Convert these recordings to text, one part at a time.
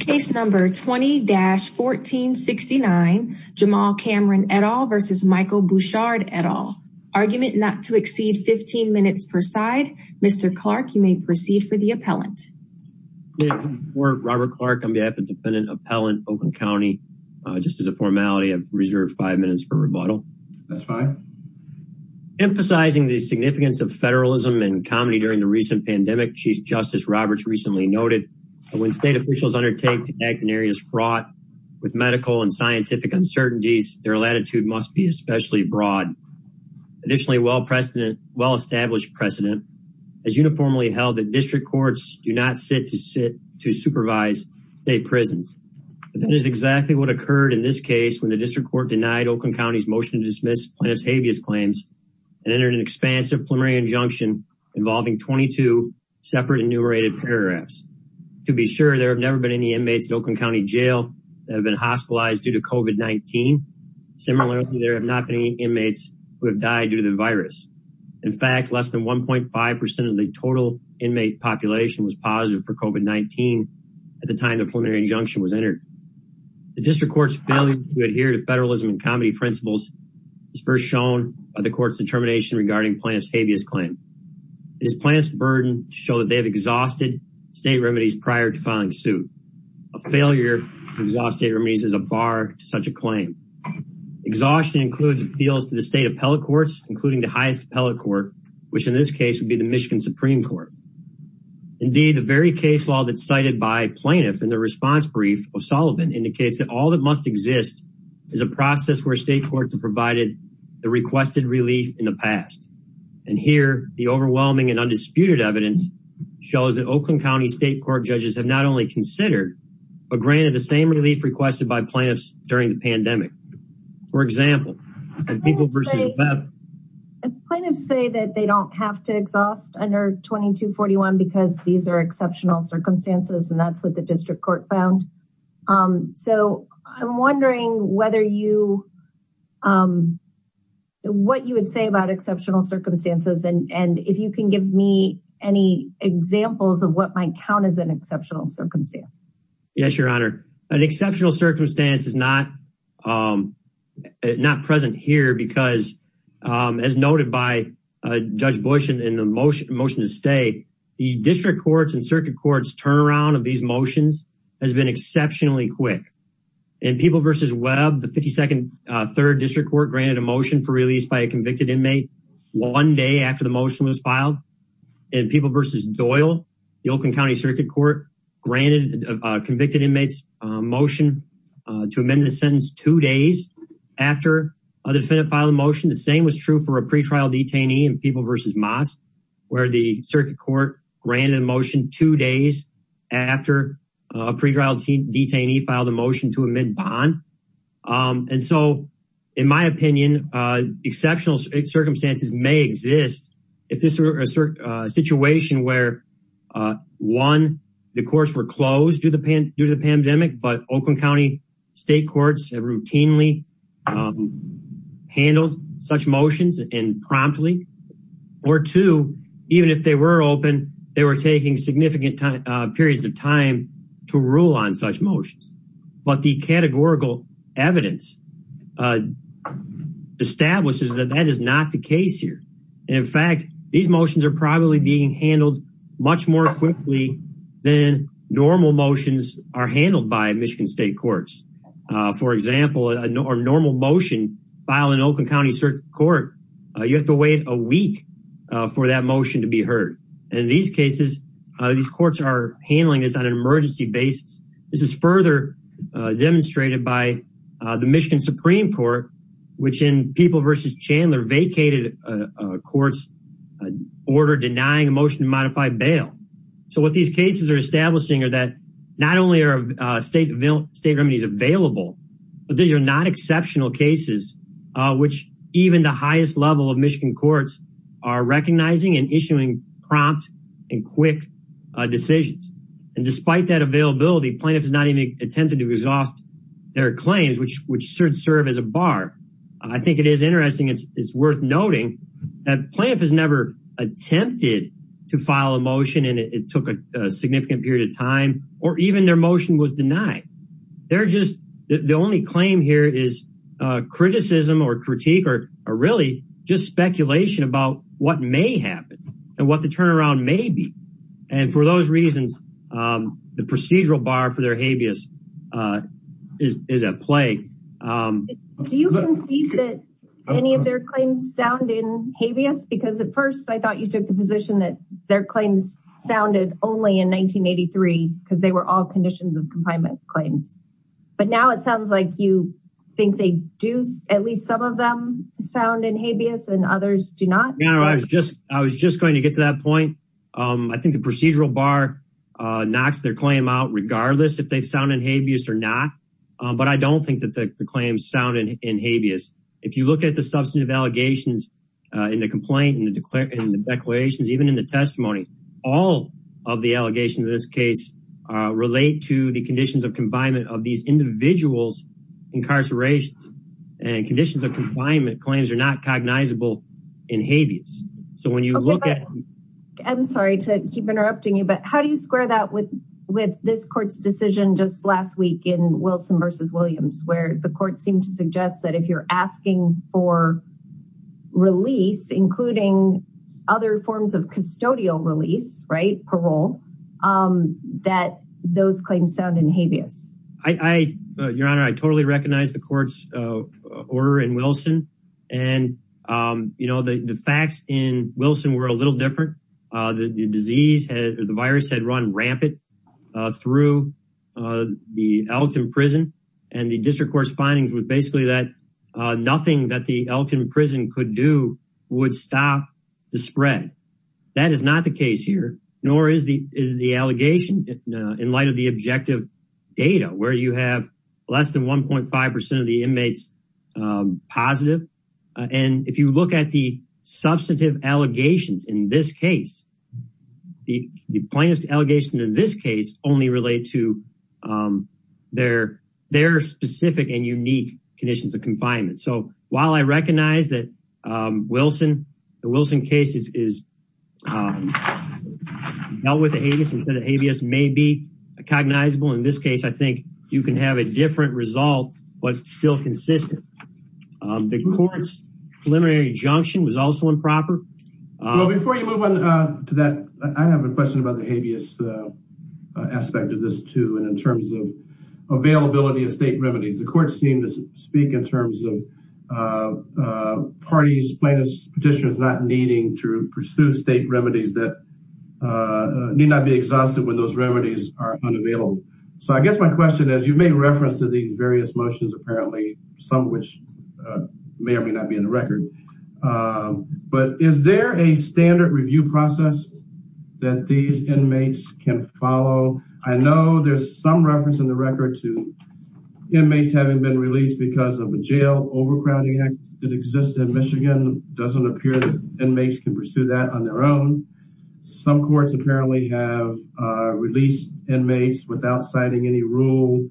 Case number 20-1469 Jamal Cameron et al. versus Michael Bouchard et al. Argument not to exceed 15 minutes per side. Mr. Clark you may proceed for the appellant. Robert Clark on behalf of the defendant appellant, Oakland County. Just as a formality I've reserved five minutes for rebuttal. That's fine. Emphasizing the significance of federalism and comedy during the recent pandemic Chief State officials undertake to act in areas fraught with medical and scientific uncertainties. Their latitude must be especially broad. Additionally well precedent well-established precedent has uniformly held that district courts do not sit to sit to supervise state prisons. But that is exactly what occurred in this case when the district court denied Oakland County's motion to dismiss plaintiff's habeas claims and entered an expansive preliminary injunction involving 22 separate enumerated paragraphs. To be sure there have never been any inmates in Oakland County jail that have been hospitalized due to COVID-19. Similarly there have not been any inmates who have died due to the virus. In fact less than 1.5% of the total inmate population was positive for COVID-19 at the time the preliminary injunction was entered. The district court's failure to adhere to federalism and comedy principles is first shown by the court's determination regarding plaintiff's habeas claim. It is plaintiff's burden to show that they have exhausted state remedies prior to filing suit. A failure to exhaust state remedies is a bar to such a claim. Exhaustion includes appeals to the state appellate courts including the highest appellate court which in this case would be the Michigan Supreme Court. Indeed the very case law that's cited by plaintiff in the response brief of Sullivan indicates that all that must exist is a process where state courts have provided the requested relief in the past. And here the overwhelming and undisputed evidence shows that Oakland County state court judges have not only considered but granted the same relief requested by plaintiffs during the pandemic. For example, Plaintiffs say that they don't have to exhaust under 2241 because these are exceptional circumstances and that's what the district court found. Um so I'm wondering whether you um what you would say about exceptional circumstances and and if you can give me any examples of what might count as an exceptional circumstance. Yes your honor an exceptional circumstance is not um not present here because um as noted by Judge Bush in the motion to stay the district courts and circuit courts turnaround of these motions has been exceptionally quick. In People v. Webb the 52nd uh third district court granted a motion for release by a convicted inmate one day after the motion was filed. In People v. Doyle the Oakland County circuit court granted a convicted inmate's motion to amend the sentence two days after the defendant filed the motion. The same was true for a pretrial detainee in People v. Moss where the circuit court granted a motion two days after a pretrial detainee filed a motion to amend bond. Um and so in my opinion uh exceptional circumstances may exist if this is a situation where uh one the courts were closed due to the pandemic but Oakland County state courts have routinely um handled such motions and promptly. Or two even if they were open they were taking significant time uh periods of time to rule on such motions but the categorical evidence uh establishes that that is not the case here and in fact these motions are probably being handled much more quickly than normal motions are handled by Michigan state courts. For example a normal motion filed in Oakland County circuit court you have to wait a week for that motion to be heard. In these cases these courts are handling this on an emergency basis. This is further demonstrated by the Michigan Supreme Court which in People v. Chandler vacated courts order denying a motion to modify bail. So what these cases are establishing are that not only are state state remedies available but these are not exceptional cases which even the highest level of Michigan courts are recognizing and issuing prompt and quick decisions and despite that availability plaintiff has not even attempted to exhaust their claims which which should serve as a bar. I think it is interesting it's it's worth noting that plaintiff has never attempted to file a motion and it took a significant period of time or even their motion was denied. They're just the only claim here is uh criticism or critique or really just speculation about what may happen and what the turnaround may be and for those reasons um the procedural bar for their habeas uh is is at play. Do you concede that any of their claims sound in habeas because at first I thought you took the position that their claims sounded only in 1983 because they were all conditions of confinement claims but now it sounds like you think they do at least some of them sound in habeas and others do not? No I was just I was just going to get to that point um I think the procedural bar uh knocks their claim out regardless if they've sounded habeas or not but I don't think that the claims sounded in habeas. If you look at the substantive allegations uh in the complaint and the declarations even in the testimony all of the allegations in this case uh relate to the conditions of confinement of these individuals incarcerations and conditions of confinement claims are not cognizable in habeas. So when you look at I'm sorry to keep interrupting you but how do you square that with with this court's decision just last week in Wilson versus Williams where the court seemed to for release including other forms of custodial release right parole um that those claims sound in habeas? I I your honor I totally recognize the court's uh order in Wilson and um you know the the facts in Wilson were a little different uh the disease had the virus had run rampant through uh the Elkton prison and the district court's findings was basically that uh nothing that the Elkton prison could do would stop the spread. That is not the case here nor is the is the allegation in light of the objective data where you have less than 1.5 percent of the inmates um positive and if you look at the case only relate to um their their specific and unique conditions of confinement. So while I recognize that um Wilson the Wilson case is is um dealt with the habeas instead of habeas may be cognizable in this case I think you can have a different result but still consistent. The court's preliminary injunction was also improper. Well before you move on uh to that I have a question about the habeas uh aspect of this too and in terms of availability of state remedies the court seemed to speak in terms of uh uh parties plaintiffs petitioners not needing to pursue state remedies that uh need not be exhausted when those remedies are unavailable. So I guess my question is you may reference to these various motions apparently some which may or may not be in the record but is there a standard review process that these inmates can follow? I know there's some reference in the record to inmates having been released because of a jail overcrowding act that exists in Michigan doesn't appear that inmates can pursue that on their own. Some courts apparently have uh released inmates without citing any rule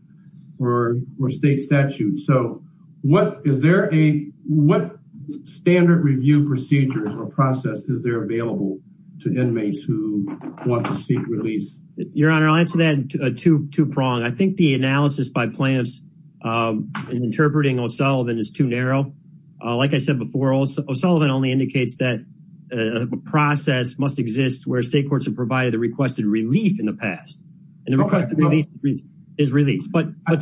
or or state statutes. So what is there a what standard review procedures or process is there available to inmates who want to seek release? Your honor I'll answer that two two prong. I think the analysis by plaintiffs um in interpreting O'Sullivan is too narrow. Like I said before O'Sullivan only indicates that a process must exist where state courts have provided the requested relief in the past and the requested release is released. But I'm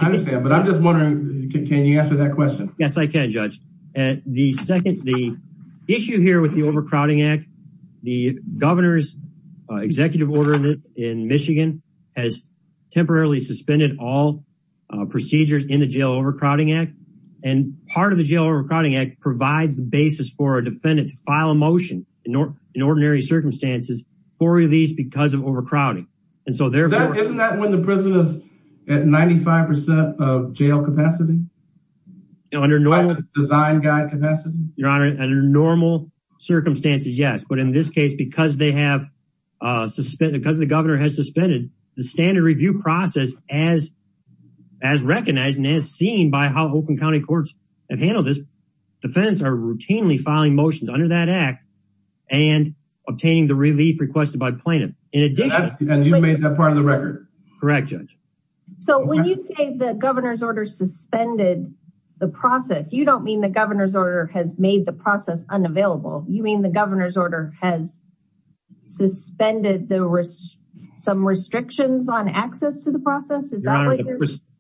just wondering can you answer that question? Yes I can judge. And the second the issue here with the overcrowding act the governor's executive order in Michigan has temporarily suspended all procedures in the jail overcrowding act and part of the jail overcrowding act provides the basis for a defendant to file a motion in ordinary circumstances for release because of overcrowding. And so therefore isn't that when the prison is at 95 percent of jail capacity? Under normal design guide capacity? Your honor under normal circumstances yes but in this case because they have uh suspended because the governor has suspended the standard review process as as recognized and as seen by how Oakland County Courts have handled this defendants are routinely filing motions under that act and obtaining the relief requested by plaintiff. And you made that part of the record? Correct judge. So when you say the governor's order suspended the process you don't mean the governor's order has made the process unavailable you mean the governor's order has suspended the some restrictions on access to the process?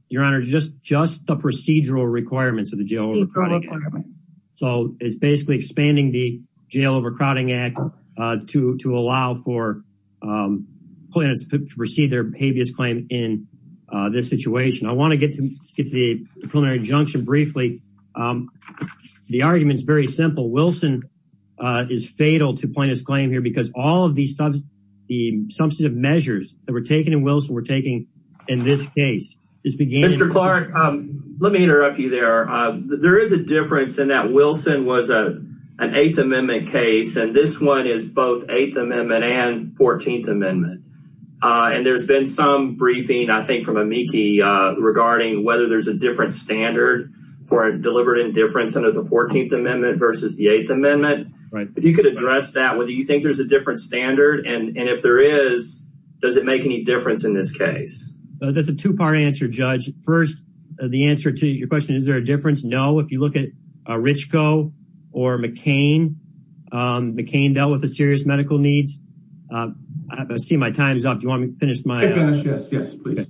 Your honor just just the procedural requirements of the jail so it's basically expanding the plaintiffs to proceed their habeas claim in this situation. I want to get to get to the preliminary injunction briefly. The argument is very simple. Wilson is fatal to plaintiff's claim here because all of the substantive measures that were taken in Wilson were taken in this case. Mr. Clark let me interrupt you there. There is a difference in that Wilson was a an eighth amendment case and this one is both eighth amendment and 14th amendment. And there's been some briefing I think from amici regarding whether there's a different standard for deliberate indifference under the 14th amendment versus the eighth amendment. Right. If you could address that whether you think there's a different standard and and if there is does it make any difference in this case? That's a two-part answer judge. First the answer to your question is there a difference? No. If you look at Richko or McCain, McCain dealt with the serious medical needs. I see my time is up. Do you want me to finish my? Yes, yes, yes. Please.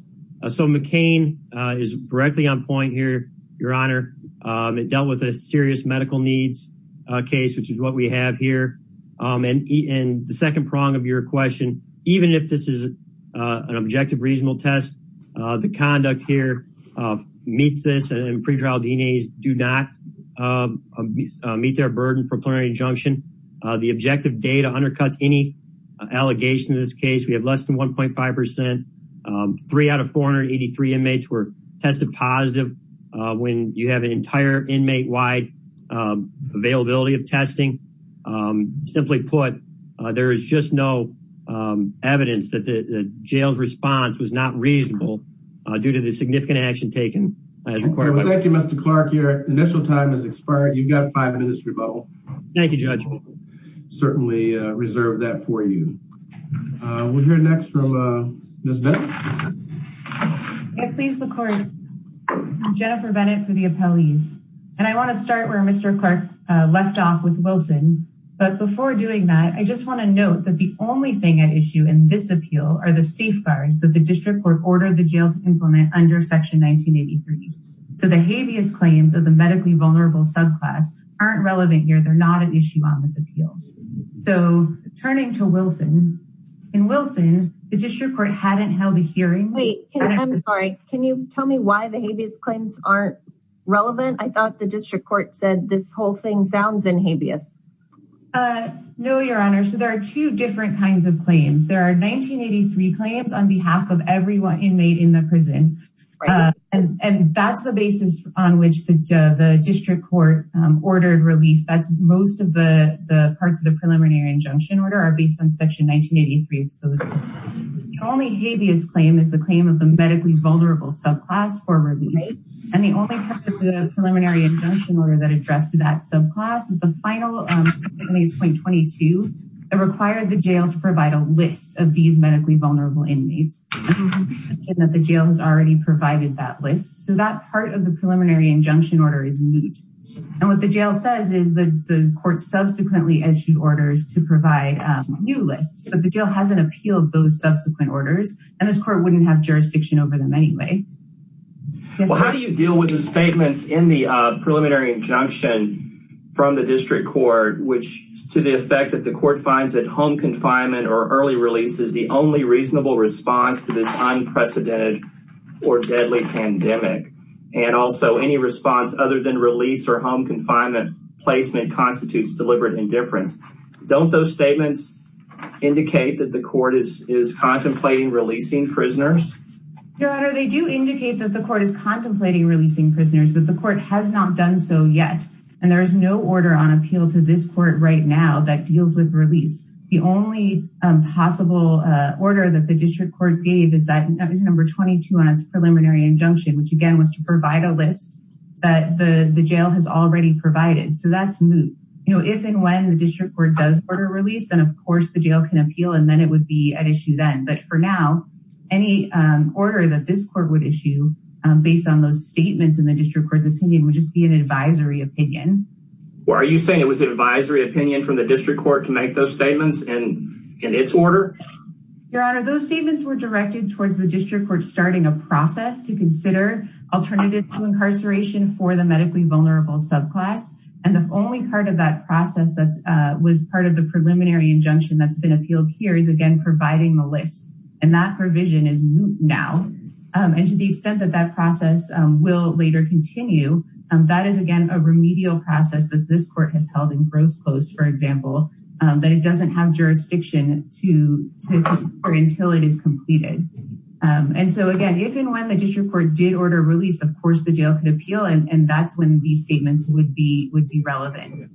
So McCain is directly on point here your honor. It dealt with a serious medical needs case which is what we have here. And in the second prong of your question even if this is an objective reasonable test the conduct here meets this and pretrial DNAs do not meet their burden for plenary injunction. The objective data undercuts any allegation in this case. We have less than 1.5 percent three out of 483 inmates were tested positive when you have an entire inmate wide availability of testing. Simply put there is just no evidence that the jail's response was not reasonable due to the significant action taken as required. Thank you Mr. Clark. Your initial time has expired. You've got five minutes rebuttal. Thank you judge. We'll certainly reserve that for you. We'll hear next from Ms. Bennett. Please record Jennifer Bennett for the appellees. And I want to start where Mr. Clark left off with Wilson. But before doing that I just want to note that the only thing at issue in this appeal are the safeguards that the district court ordered the jail to implement under section 1983. So the habeas claims of the medically vulnerable subclass aren't relevant here. They're not an issue on this appeal. So turning to Wilson. In Wilson the district court hadn't held a hearing. Wait I'm sorry. Can you tell me why the habeas claims aren't relevant? I thought the district court said this whole thing sounds in habeas. No your honor. So there are two different kinds of claims. There are 1983 claims on behalf of every inmate in the prison. And that's the basis on which the district court ordered relief. That's most of the parts of the preliminary injunction order are based on section 1983. The only habeas claim is the claim of the medically vulnerable subclass for release. And the only preliminary injunction order that addressed that subclass is the final 8.22. It required the jail to provide a list of these medically vulnerable inmates. And that the jail has already provided that list. So that part of the preliminary injunction order is moot. And what the jail says is that the court subsequently issued orders to provide new lists. But the jail hasn't appealed those subsequent orders. And this court wouldn't have jurisdiction over them anyway. How do you deal with the statements in the preliminary injunction from the district court which to the effect that the court finds that home confinement or early release is the only reasonable response to this unprecedented or deadly pandemic. And also any response other than release or home confinement placement constitutes deliberate indifference. Don't those statements indicate that the court is contemplating releasing prisoners? Your honor they do indicate that the court is contemplating releasing prisoners. But the court has not done so yet. And there is no order on appeal to this court right now that deals with release. The only possible order that the district court gave is that number 22 on its preliminary injunction which again was to provide a list that the jail has already provided. So that's moot. If and when the district court does order release then of course the jail can appeal and then it would be at issue then. But for now any order that this court would issue based on those statements in the opinion would just be an advisory opinion. Are you saying it was an advisory opinion from the district court to make those statements in its order? Your honor those statements were directed towards the district court starting a process to consider alternative to incarceration for the medically vulnerable subclass. And the only part of that process that was part of the preliminary injunction that's been appealed here is again providing the list. And that provision is moot now. And to the extent that that process will later continue that is again a remedial process that this court has held in gross post for example that it doesn't have jurisdiction to consider until it is completed. And so again if and when the district court did order release of course the jail could appeal and that's when these statements would be relevant.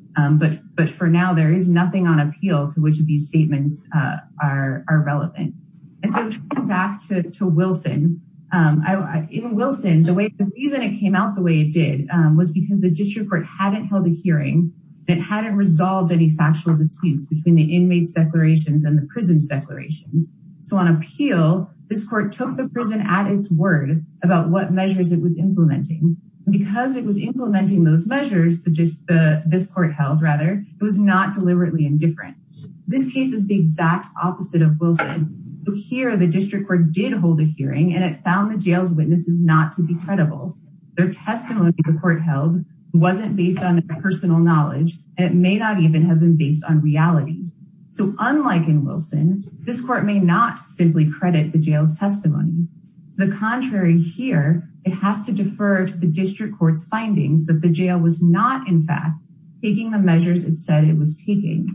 But for now there is nothing on appeal to which these statements are relevant. And so back to Wilson. In Wilson the reason it came out the way it did was because the district court hadn't held a hearing. It hadn't resolved any factual disputes between the inmates declarations and the prison's declarations. So on appeal this court took the prison at its word about what measures it was implementing. Because it was implementing those measures that this court held rather it was not deliberately indifferent. This case is the exact opposite of Wilson. So here the district court did hold a hearing and it found the jail's witnesses not to be credible. Their testimony the court held wasn't based on their personal knowledge and it may not even have been based on reality. So unlike in Wilson this court may not simply credit the jail's testimony. The contrary here it has to defer to the district court's findings that the jail was not in fact taking the measures it said it was taking.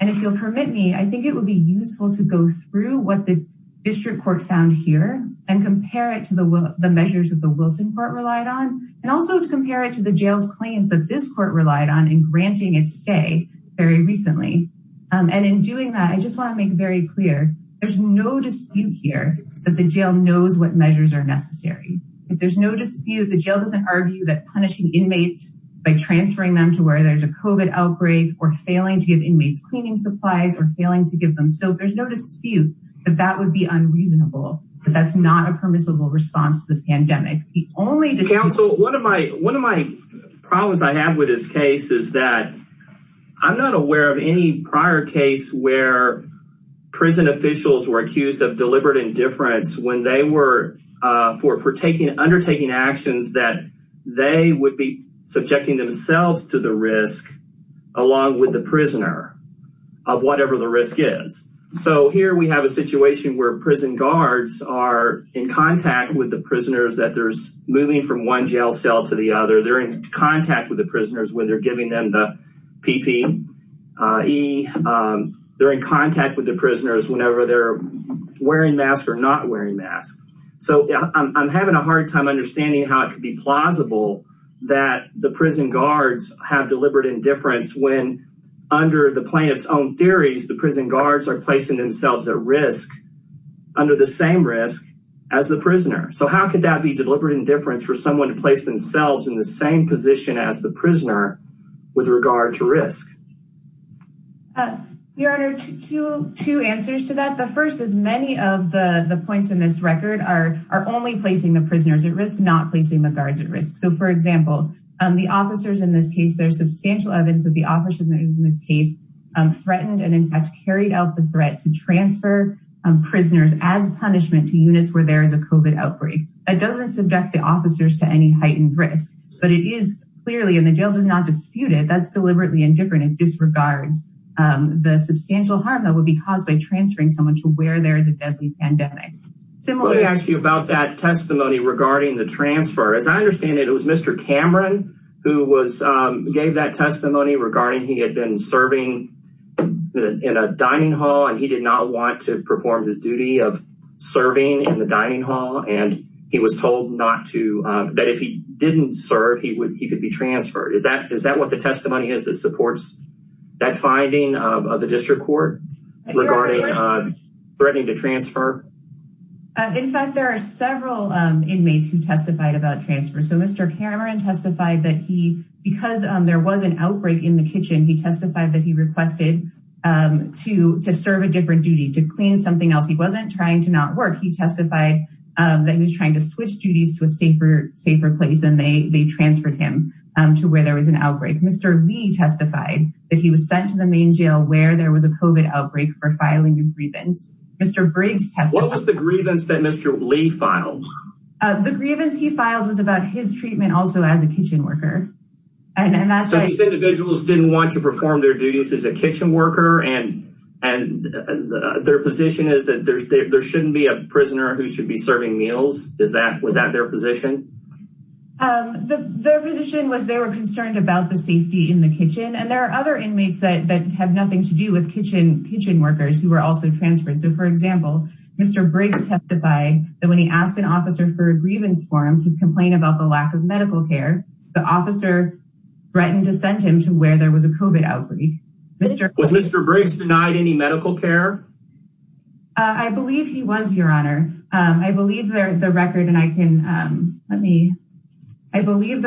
And if you'll permit me I think it would be useful to go through what the district court found here and compare it to the measures that the Wilson court relied on and also to compare it to the jail's claims that this court relied on in granting its stay very recently. And in doing that I just want to make very clear there's no dispute here that the jail knows what measures are necessary. If there's no dispute the jail doesn't argue that punishing inmates by transferring them to where there's a COVID outbreak or failing to give inmates cleaning supplies or failing to give them. So there's no dispute that that would be unreasonable. But that's not a permissible response to the pandemic. The only dispute... Counsel, one of my problems I have with this case is that I'm not aware of any prior case where prison officials were accused of deliberate indifference when they were undertaking actions that they would be subjecting themselves to the risk along with the prisoner of whatever the risk is. So here we have a situation where prison guards are in contact with the prisoners that they're moving from one jail cell to the other. They're in contact with the prisoners when they're giving them the PPE. They're in contact with the prisoners whenever they're wearing masks or not wearing masks. So I'm having a hard time understanding how it could be plausible that the prison guards have deliberate indifference when under the plaintiff's own theories the prison guards are placing themselves at risk under the same risk as the prisoner. So how could that be deliberate indifference for someone to place themselves in the same position as the prisoner with regard to risk? Your Honor, two answers to that. The first is many of the points in this record are only placing the prisoners at risk, not placing the guards at risk. So for example, the officers in this case, there's substantial evidence that the officer in this case threatened and in fact carried out the threat to transfer prisoners as punishment to units where there is a COVID outbreak. That doesn't subject the officers to any heightened risk. But it is clearly, and the jail does not dispute it, that's deliberately indifferent. It disregards the substantial harm that would be caused by transferring someone to where there is a deadly pandemic. So let me ask you about that testimony regarding the transfer. As I understand it, it was Mr. Cameron who gave that testimony regarding he had been serving in a dining hall and he did not want to perform his duty of serving in the dining hall. And he was told that if he didn't serve, he could be transferred. Is that what the testimony is that supports that finding of the district court regarding threatening to transfer? In fact, there are several inmates who testified about transfer. So Mr. Cameron testified that he, because there was an outbreak in the kitchen, he testified that he requested to serve a different duty, to clean something else. He wasn't trying to not work. He testified that he was trying to switch duties to a safer place and they transferred him to where there was an outbreak. Mr. Lee testified that he was sent to the main jail where there was a COVID outbreak for filing a grievance. Mr. Briggs testified- What was the grievance that Mr. Lee filed? The grievance he filed was about his treatment also as a kitchen worker. So these individuals didn't want to perform their duties as a kitchen worker and their position is that there shouldn't be a prisoner who should be serving meals? Was that their position? Um, their position was they were concerned about the safety in the kitchen. And there are other inmates that have nothing to do with kitchen workers who were also transferred. So for example, Mr. Briggs testified that when he asked an officer for a grievance for him to complain about the lack of medical care, the officer threatened to send him to where there was a COVID outbreak. Mr- Was Mr. Briggs denied any medical care? I believe he was, Your Honor. I believe the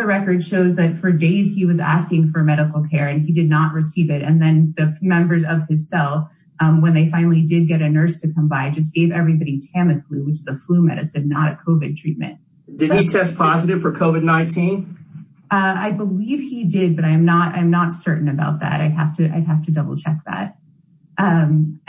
record shows that for days he was asking for medical care and he did not receive it. And then the members of his cell, when they finally did get a nurse to come by, just gave everybody Tamiflu, which is a flu medicine, not a COVID treatment. Did he test positive for COVID-19? I believe he did, but I'm not certain about that. I'd have to double check that. And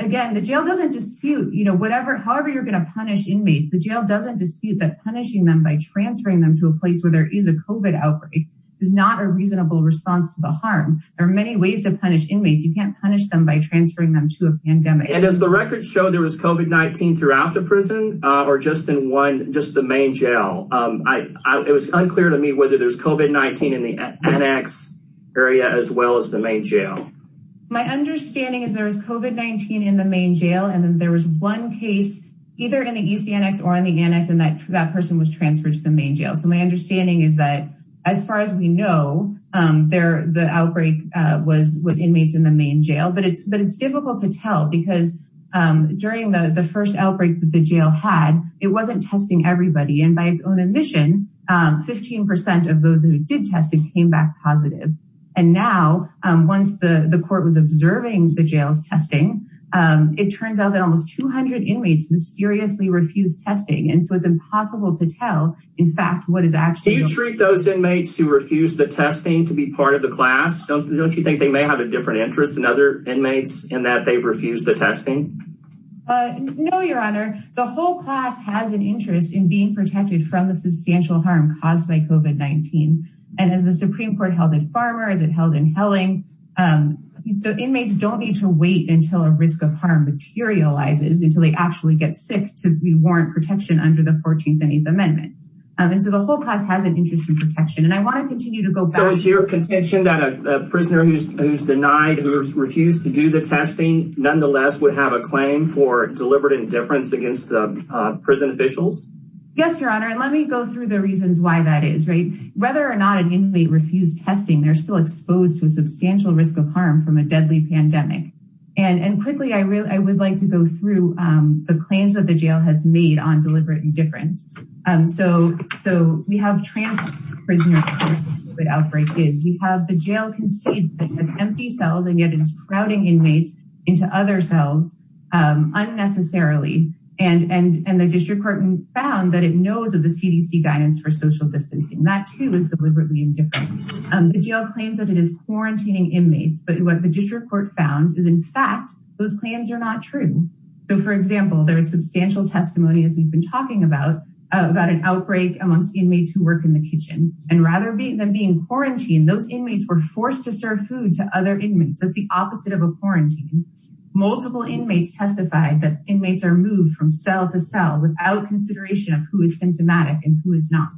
again, the jail doesn't dispute, you know, whatever, however you're going to punish inmates, the jail doesn't dispute that punishing them by transferring them to a place where there is a COVID outbreak is not a reasonable response to the harm. There are many ways to punish inmates. You can't punish them by transferring them to a pandemic. And does the record show there was COVID-19 throughout the prison or just in one, just the main jail? It was unclear to me whether there's COVID-19 in the annex area as well as the main jail. My understanding is there was COVID-19 in the main jail, and then there was one case either in the east annex or in the annex, and that person was transferred to the main jail. So my understanding is that as far as we know, the outbreak was inmates in the main jail, but it's difficult to tell because during the first outbreak that the jail had, it wasn't testing everybody. And by its own admission, 15% of those who did test it came back positive. And now, once the court was observing the jail's testing, it turns out that almost 200 inmates mysteriously refused testing. And so it's impossible to tell, in fact, what is actually- Do you treat those inmates who refuse the testing to be part of the class? Don't you think they may have a different interest than other inmates in that they've refused the testing? No, Your Honor. The whole class has an interest in being protected from the substantial harm caused by COVID-19. And as the Supreme Court held in Farmer, as it held in Helling, the inmates don't need to wait until a risk of harm materializes, until they actually get sick, to be warranted protection under the 14th and 8th Amendment. And so the whole class has an interest in protection. And I want to continue to go back- So it's your contention that a prisoner who's denied, who refused to do the testing, nonetheless would have a claim for deliberate indifference against the prison officials? Yes, Your Honor. And let me go through the reasons why that is, right? Whether or not an inmate refused testing, they're still exposed to a substantial risk of harm from a deadly pandemic. And quickly, I would like to go through the claims that the jail has made on deliberate indifference. So we have trans-prisoner cases, COVID outbreak is. We have the jail concedes that it has empty cells, and yet it's crowding inmates into other cells unnecessarily. And the District Court found that it knows of the CDC guidance for social distancing. That, too, is deliberately indifferent. The jail claims that it is quarantining inmates, but what the District Court found is, in fact, those claims are not true. So, for example, there is substantial testimony, as we've been talking about, about an outbreak amongst inmates who work in the kitchen. And rather than being quarantined, those inmates were forced to serve food to other inmates. That's the opposite of a quarantine. Multiple inmates testified that inmates are moved from cell to cell without consideration of who is symptomatic and who is not.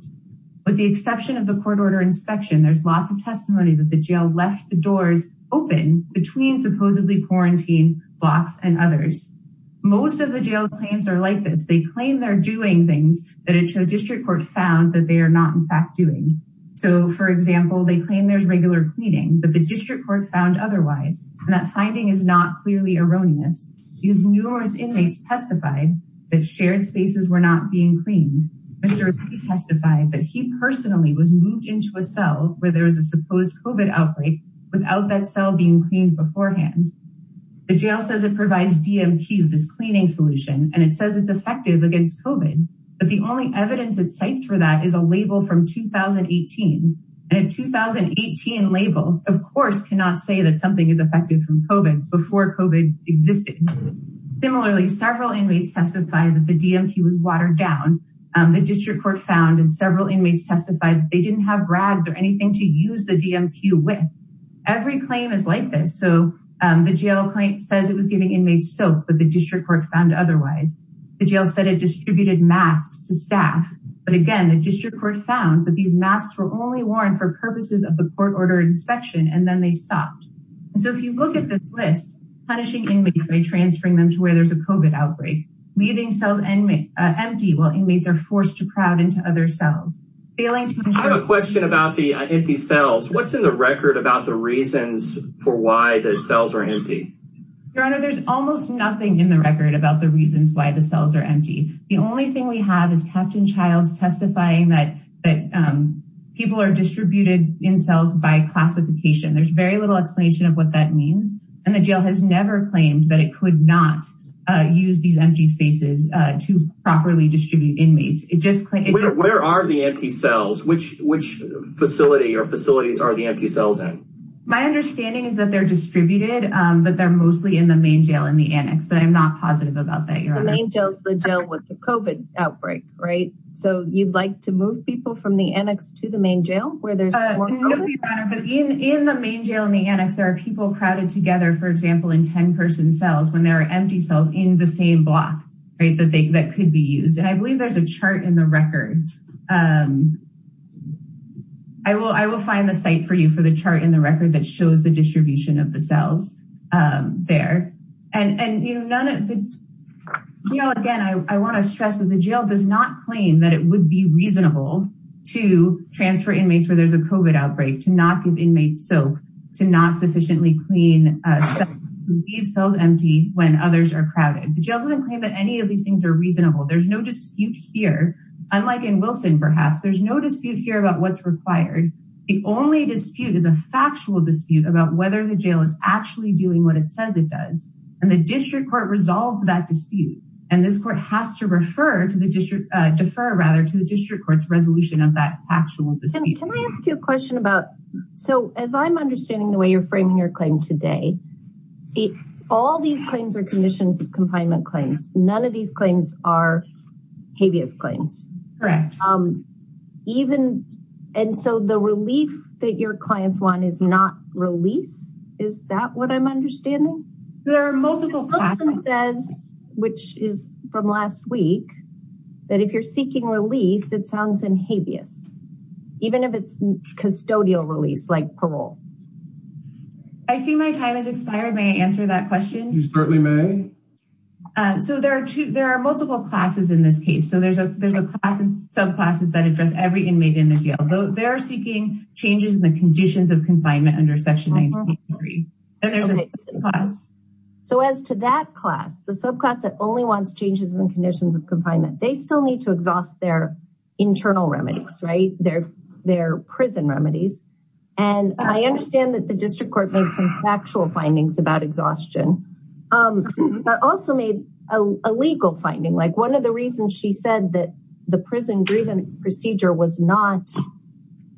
With the exception of the court order inspection, there's lots of testimony that the jail left the doors open between supposedly quarantined blocks and others. Most of the jail's claims are like this. They claim they're doing things that a District Court found that they are not, in fact, doing. So, for example, they claim there's regular cleaning, but the District Court found otherwise. And that finding is not clearly erroneous. Because numerous inmates testified that shared spaces were not being cleaned. Mr. Ray testified that he personally was moved into a cell where there was a supposed COVID outbreak without that cell being cleaned beforehand. The jail says it provides DMQ, this cleaning solution, and it says it's effective against COVID. But the only evidence it cites for that is a label from 2018. And a 2018 label, of course, cannot say that something is effective from COVID before COVID existed. Similarly, several inmates testified that the DMQ was watered down. The District Court found, and several inmates testified, they didn't have rags or anything to use the DMQ with. Every claim is like this. So, the jail claim says it was giving inmates soap, but the District Court found otherwise. The jail said it distributed masks to staff. But again, the District Court found that these masks were only worn for purposes of the court order inspection, and then they stopped. And so, if you look at this list, punishing inmates by transferring them to where there's a COVID outbreak, leaving cells empty while inmates are forced to crowd into other cells, failing to ensure- I have a question about the empty cells. What's in the record about the reasons for why the cells are empty? Your Honor, there's almost nothing in the record about the reasons why the cells are empty. The only thing we have is Captain Childs testifying that people are distributed in cells by classification. There's very little explanation of what that means, and the jail has never claimed that it could not use these empty spaces to properly distribute inmates. Where are the empty cells? Which facility or facilities are the empty cells in? My understanding is that they're distributed, but they're mostly in the main jail, in the annex. But I'm not positive about that, Your Honor. The main jail is the jail with the COVID outbreak, right? So, you'd like to move people from the annex to the main jail where there's more COVID? In the main jail and the annex, there are people crowded together, for example, in 10-person cells when there are empty cells in the same block, right, that could be used. And I believe there's a chart in the record. I will find the site for you for the chart in the record that shows the distribution of the cells there. And, you know, again, I want to stress that the jail does not claim that it would be reasonable to transfer inmates where there's a COVID outbreak, to not give inmates soap, to not sufficiently clean, leave cells empty when others are crowded. The jail doesn't claim that any of these things are reasonable. There's no dispute here. Unlike in Wilson, perhaps, there's no dispute here about what's required. The only dispute is a factual dispute about whether the jail is actually doing what it says it does. And the district court resolves that dispute. And this court has to defer to the district court's resolution of that actual dispute. Can I ask you a question about, so as I'm understanding the way you're framing your claim today, all these claims are conditions of confinement claims. None of these claims are habeas claims. Correct. And so the relief that your clients want is not release? Is that what I'm understanding? There are multiple classes. Wilson says, which is from last week, that if you're seeking release, it sounds in habeas, even if it's custodial release, like parole. I see my time has expired. May I answer that question? You certainly may. So there are two, there are multiple classes in this case. So there's a, there's a class of subclasses that address every inmate in the jail, though they're seeking changes in the conditions of confinement under section 193. And there's a class. So as to that class, the subclass that only wants changes in conditions of confinement, they still need to exhaust their internal remedies, right? They're, they're prison remedies. And I understand that the district court made some factual findings about exhaustion, but also made a legal finding. Like one of the reasons she said that the prison grievance procedure was not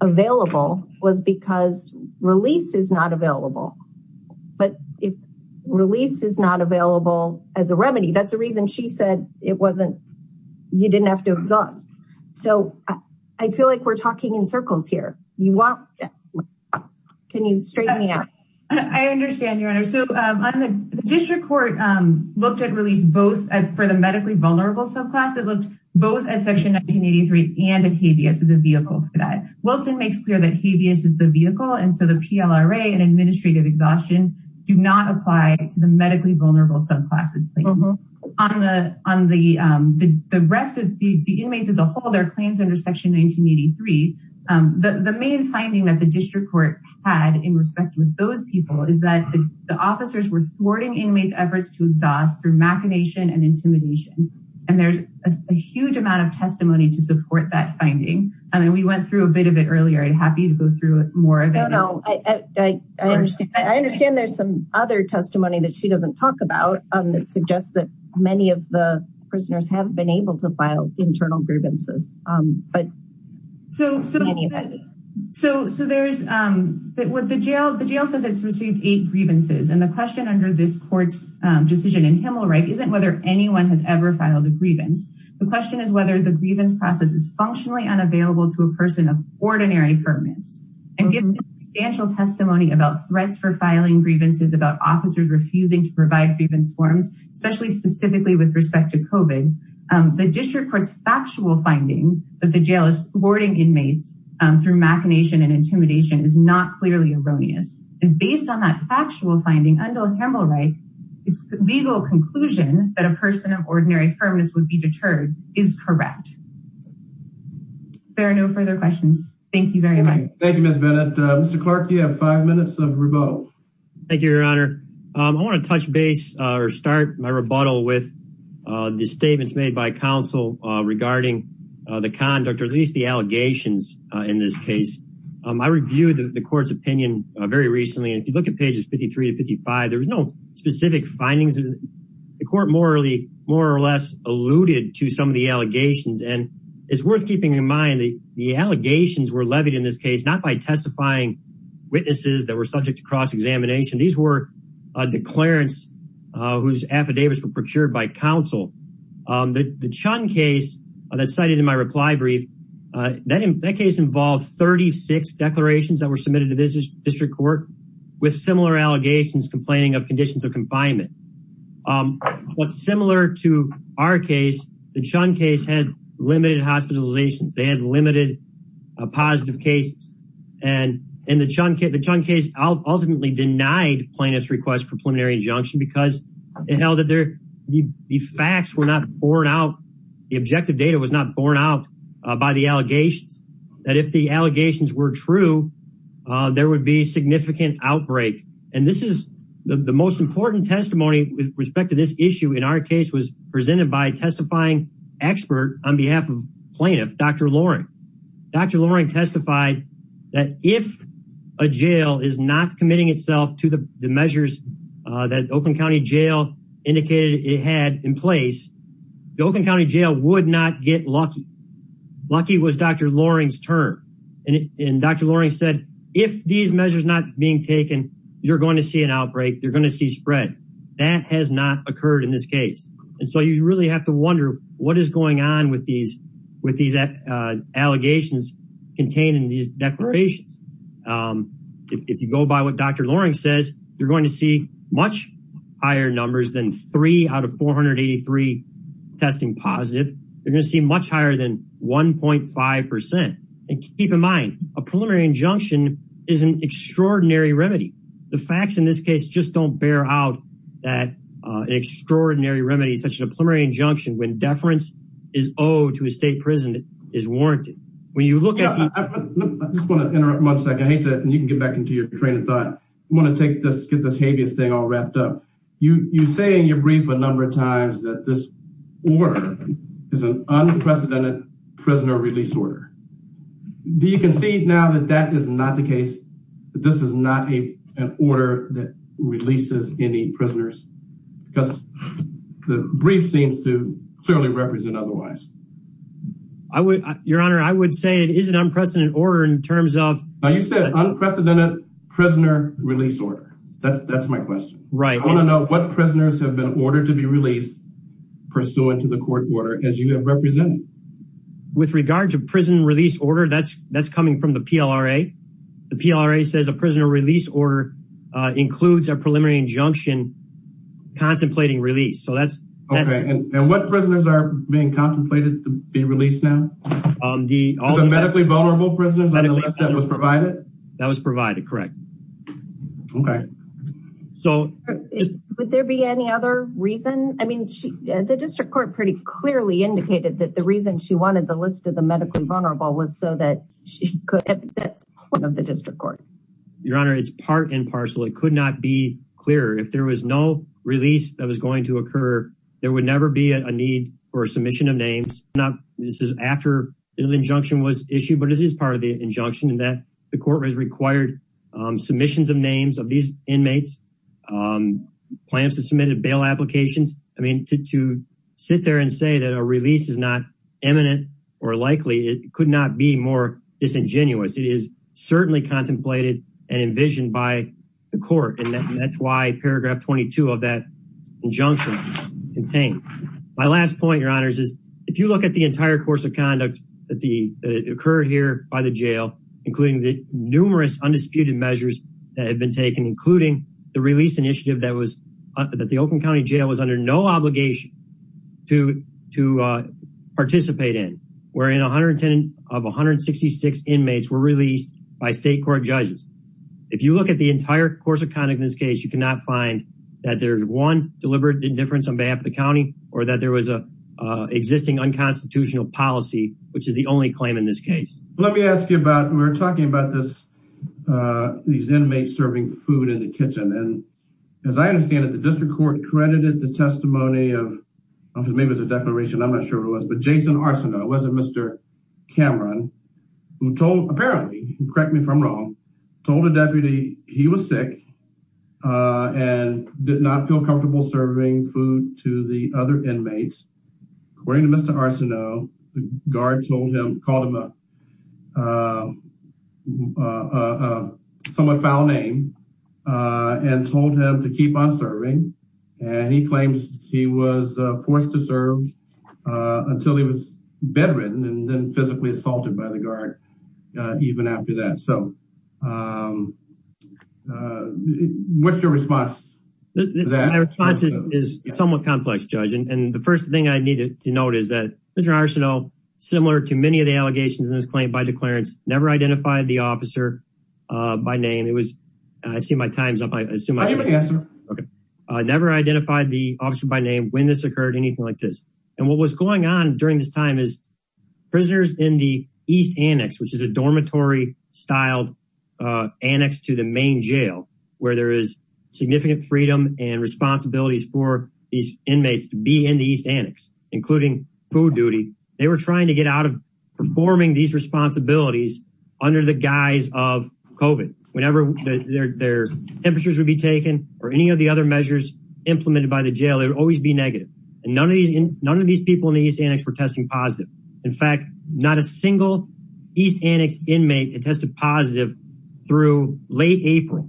available was because release is not available. But if release is not available as a remedy, that's the reason she said it wasn't, you didn't have to exhaust. So I feel like we're talking in circles here. You want, can you straighten me out? I understand your honor. So the district court looked at release both for the medically vulnerable subclass. It looked both at section 1983 and in habeas as a vehicle for that. Wilson makes clear that habeas is the vehicle. And so the PLRA and administrative exhaustion do not apply to the medically vulnerable subclasses. On the, on the, the rest of the inmates as a whole, their claims under section 1983, the main finding that the district court had in respect with those people is that the officers were thwarting inmates efforts to exhaust through machination and intimidation. And there's a huge amount of testimony to support that finding. And then we went through a bit of it earlier. I'd happy to go through more of it. No, no, I understand. I understand there's some other testimony that she doesn't talk about that suggests that many of the prisoners have been able to file internal grievances. But so, so, so, so there's what the jail, the jail says it's received eight grievances. And the question under this court's decision in Himmelreich isn't whether anyone has ever filed a grievance. The question is whether the grievance process is functionally unavailable to a person of ordinary firmness and given substantial testimony about threats for filing grievances, about officers refusing to provide grievance forms, especially specifically with respect to COVID the district court's factual finding that the jail is thwarting inmates through machination and intimidation is not clearly erroneous. And based on that factual finding under Himmelreich, it's legal conclusion that a person of ordinary firmness would be deterred is correct. There are no further questions. Thank you very much. Thank you, Ms. Bennett. Mr. Clark, you have five minutes of rebuttal. Thank you, your honor. I want to touch base or start my rebuttal with the statements made by counsel regarding the conduct or at least the allegations in this case. I reviewed the court's opinion very recently. And if you look at pages 53 to 55, there was no specific findings in the court. More or less alluded to some of the allegations. And it's worth keeping in mind that the allegations were levied in this case, not by testifying witnesses that were subject to cross-examination. These were declarants whose affidavits were procured by counsel. The Chun case that's cited in my reply brief, that case involved 36 declarations that were submitted to this district court with similar allegations, complaining of conditions of confinement. But similar to our case, the Chun case had limited hospitalizations. They had limited positive cases. And the Chun case ultimately denied plaintiff's request for preliminary injunction because it held that the facts were not borne out. The objective data was not borne out by the allegations. That if the allegations were true, there would be significant outbreak. And this is the most important testimony with respect to this issue in our case was presented by a testifying expert on behalf of plaintiff, Dr. Loring. Dr. Loring testified that if a jail is not committing itself to the measures that Oakland County Jail indicated it had in place, the Oakland County Jail would not get lucky. Lucky was Dr. Loring's term. And Dr. Loring said, if these measures not being taken, you're going to see an outbreak, you're going to see spread. That has not occurred in this case. And so you really have to wonder what is going on with these allegations contained in these declarations. If you go by what Dr. Loring says, you're going to see much higher numbers than three out of 483 testing positive. You're going to see much higher than 1.5%. And keep in mind, a preliminary injunction is an extraordinary remedy. The facts in this case just don't bear out that an extraordinary remedy, such as a preliminary injunction when deference is owed to a state prison is warranted. When you look at- I just want to interrupt one second. I hate to, and you can get back into your train of thought. I want to take this, get this habeas thing all wrapped up. You say in your brief a number of times that this order is an unprecedented prisoner release order. Do you concede now that that is not the case, that this is not an order that releases any prisoners? Because the brief seems to clearly represent otherwise. Your Honor, I would say it is an unprecedented order in terms of- Now you said unprecedented prisoner release order. That's my question. Right. I want to know what prisoners have been ordered to be released pursuant to the court order as you have represented. With regard to prison release order, that's coming from the PLRA. The PLRA says a prisoner release order includes a preliminary injunction contemplating release. So that's- Okay. And what prisoners are being contemplated to be released now? The medically vulnerable prisoners on the list that was provided? That was provided, correct. Okay. So- Would there be any other reason? I mean, the district court pretty clearly indicated that the reason she wanted the list of the medically vulnerable was so that she could have that point of the district court. Your Honor, it's part and parcel. It could not be clearer. If there was no release that was going to occur, there would never be a need for a submission of names. Not this is after the injunction was issued, but this is part of the injunction in that court has required submissions of names of these inmates, plans to submit a bail applications. I mean, to sit there and say that a release is not imminent or likely, it could not be more disingenuous. It is certainly contemplated and envisioned by the court. And that's why paragraph 22 of that injunction is contained. My last point, Your Honors, is if you look at the entire course of conduct that occurred here by the jail, including the numerous undisputed measures that have been taken, including the release initiative that the Oakland County Jail was under no obligation to participate in, wherein 110 of 166 inmates were released by state court judges. If you look at the entire course of conduct in this case, you cannot find that there's one deliberate indifference on behalf of the county or that there was an existing unconstitutional policy, which is the only claim in this case. Well, let me ask you about, we were talking about this, these inmates serving food in the kitchen. And as I understand it, the district court credited the testimony of, maybe it was a declaration, I'm not sure what it was, but Jason Arsenault, it wasn't Mr. Cameron, who told, apparently, correct me if I'm wrong, told the deputy he was sick and did not feel comfortable serving food to the other inmates. According to Mr. Arsenault, the guard told him, called him a somewhat foul name and told him to keep on serving. And he claims he was forced to serve until he was bedridden and then physically assaulted by the guard even after that. So what's your response to that? My response is somewhat complex, Judge. And the first thing I need to note is that Mr. Arsenault, similar to many of the allegations in this claim by declarence, never identified the officer by name. It was, I see my time's up. I never identified the officer by name when this occurred, anything like this. And what was going on during this time is prisoners in the East Annex, which is a dormitory styled annex to the main jail, where there is significant freedom and responsibilities for these inmates to be in the East Annex, including food duty. They were trying to get out of performing these responsibilities under the guise of COVID. Whenever their temperatures would be taken or any of the other measures implemented by the jail, it would always be negative. And none of these people in the East Annex were testing positive. In fact, not a single East Annex inmate had tested positive through late April.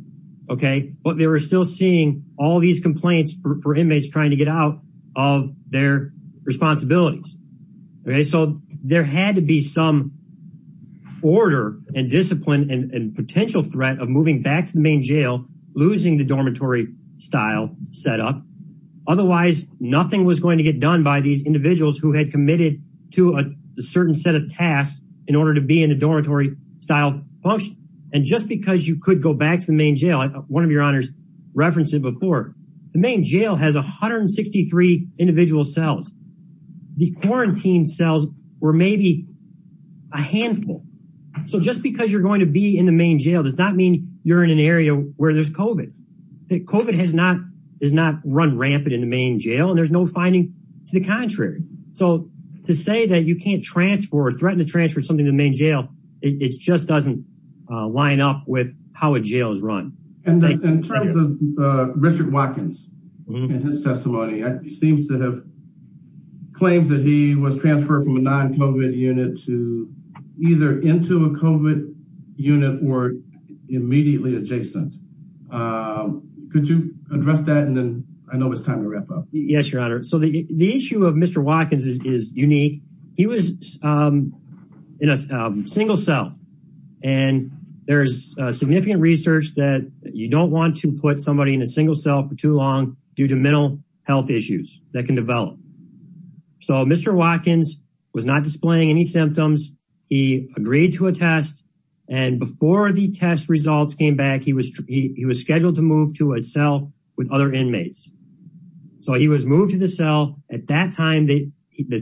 Okay. But they were still seeing all these complaints for inmates trying to get out of their responsibilities. Okay. So there had to be some order and discipline and potential threat of moving back to the main jail, losing the dormitory style set up. Otherwise nothing was going to get done by these individuals who had committed to a certain set of tasks in order to be in the dormitory style function. And just because you could go back to the main jail, one of your honors referenced it before, the main jail has 163 individual cells. The quarantine cells were maybe a handful. So just because you're going to be in the main jail does not mean you're in an area where there's COVID. COVID has not run rampant in the main jail and there's no finding to the contrary. So to say that you can't transfer or threaten to transfer something to the main jail, it just doesn't line up with how a jail is run. And in terms of Richard Watkins and his testimony, it seems to have claims that he was transferred from a non-COVID unit to either into a COVID unit or immediately adjacent. Could you address that? And then I know it's time to wrap up. Yes, your honor. So the issue of Mr. Watkins is unique. He was in a single cell and there's significant research that you don't want to put somebody in a single cell for too long due to mental health issues that can develop. So Mr. Watkins was not displaying any symptoms. He agreed to a test. And before the test results came back, he was scheduled to move to a cell with other inmates. So he was moved to the cell. At that time, the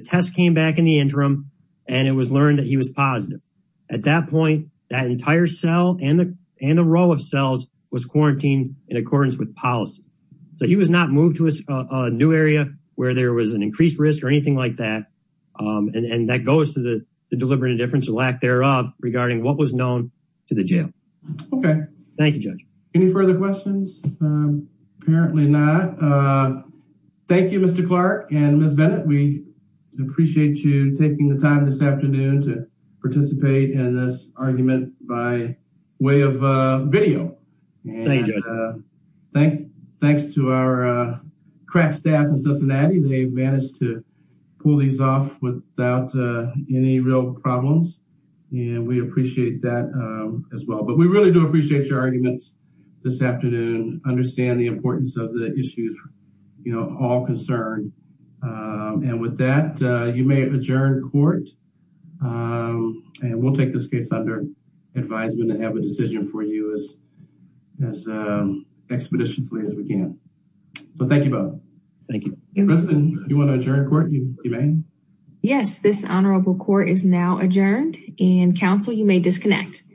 test came back in the interim and it was learned that he was positive. At that point, that entire cell and the row of cells was quarantined in accordance with policy. So he was not moved to a new area where there was an increased risk or anything like that. And that goes to the deliberate indifference or lack thereof regarding what was known to the jail. Okay. Thank you, Judge. Any further questions? Apparently not. Thank you, Mr. Clark and Ms. Bennett. We appreciate you taking the time this afternoon to participate in this argument by way of video. Thanks to our crack staff in Cincinnati. They managed to pull these off without any real problems. And we appreciate that as well. But we really do appreciate your arguments this afternoon, understand the importance of the issues, you know, all concerned. And with that, you may adjourn court. And we'll take this case under advisement and have a decision for you as expeditiously as we can. So thank you both. Thank you. President, do you want to adjourn court? You may. Yes, this honorable court is now adjourned. And counsel, you may disconnect.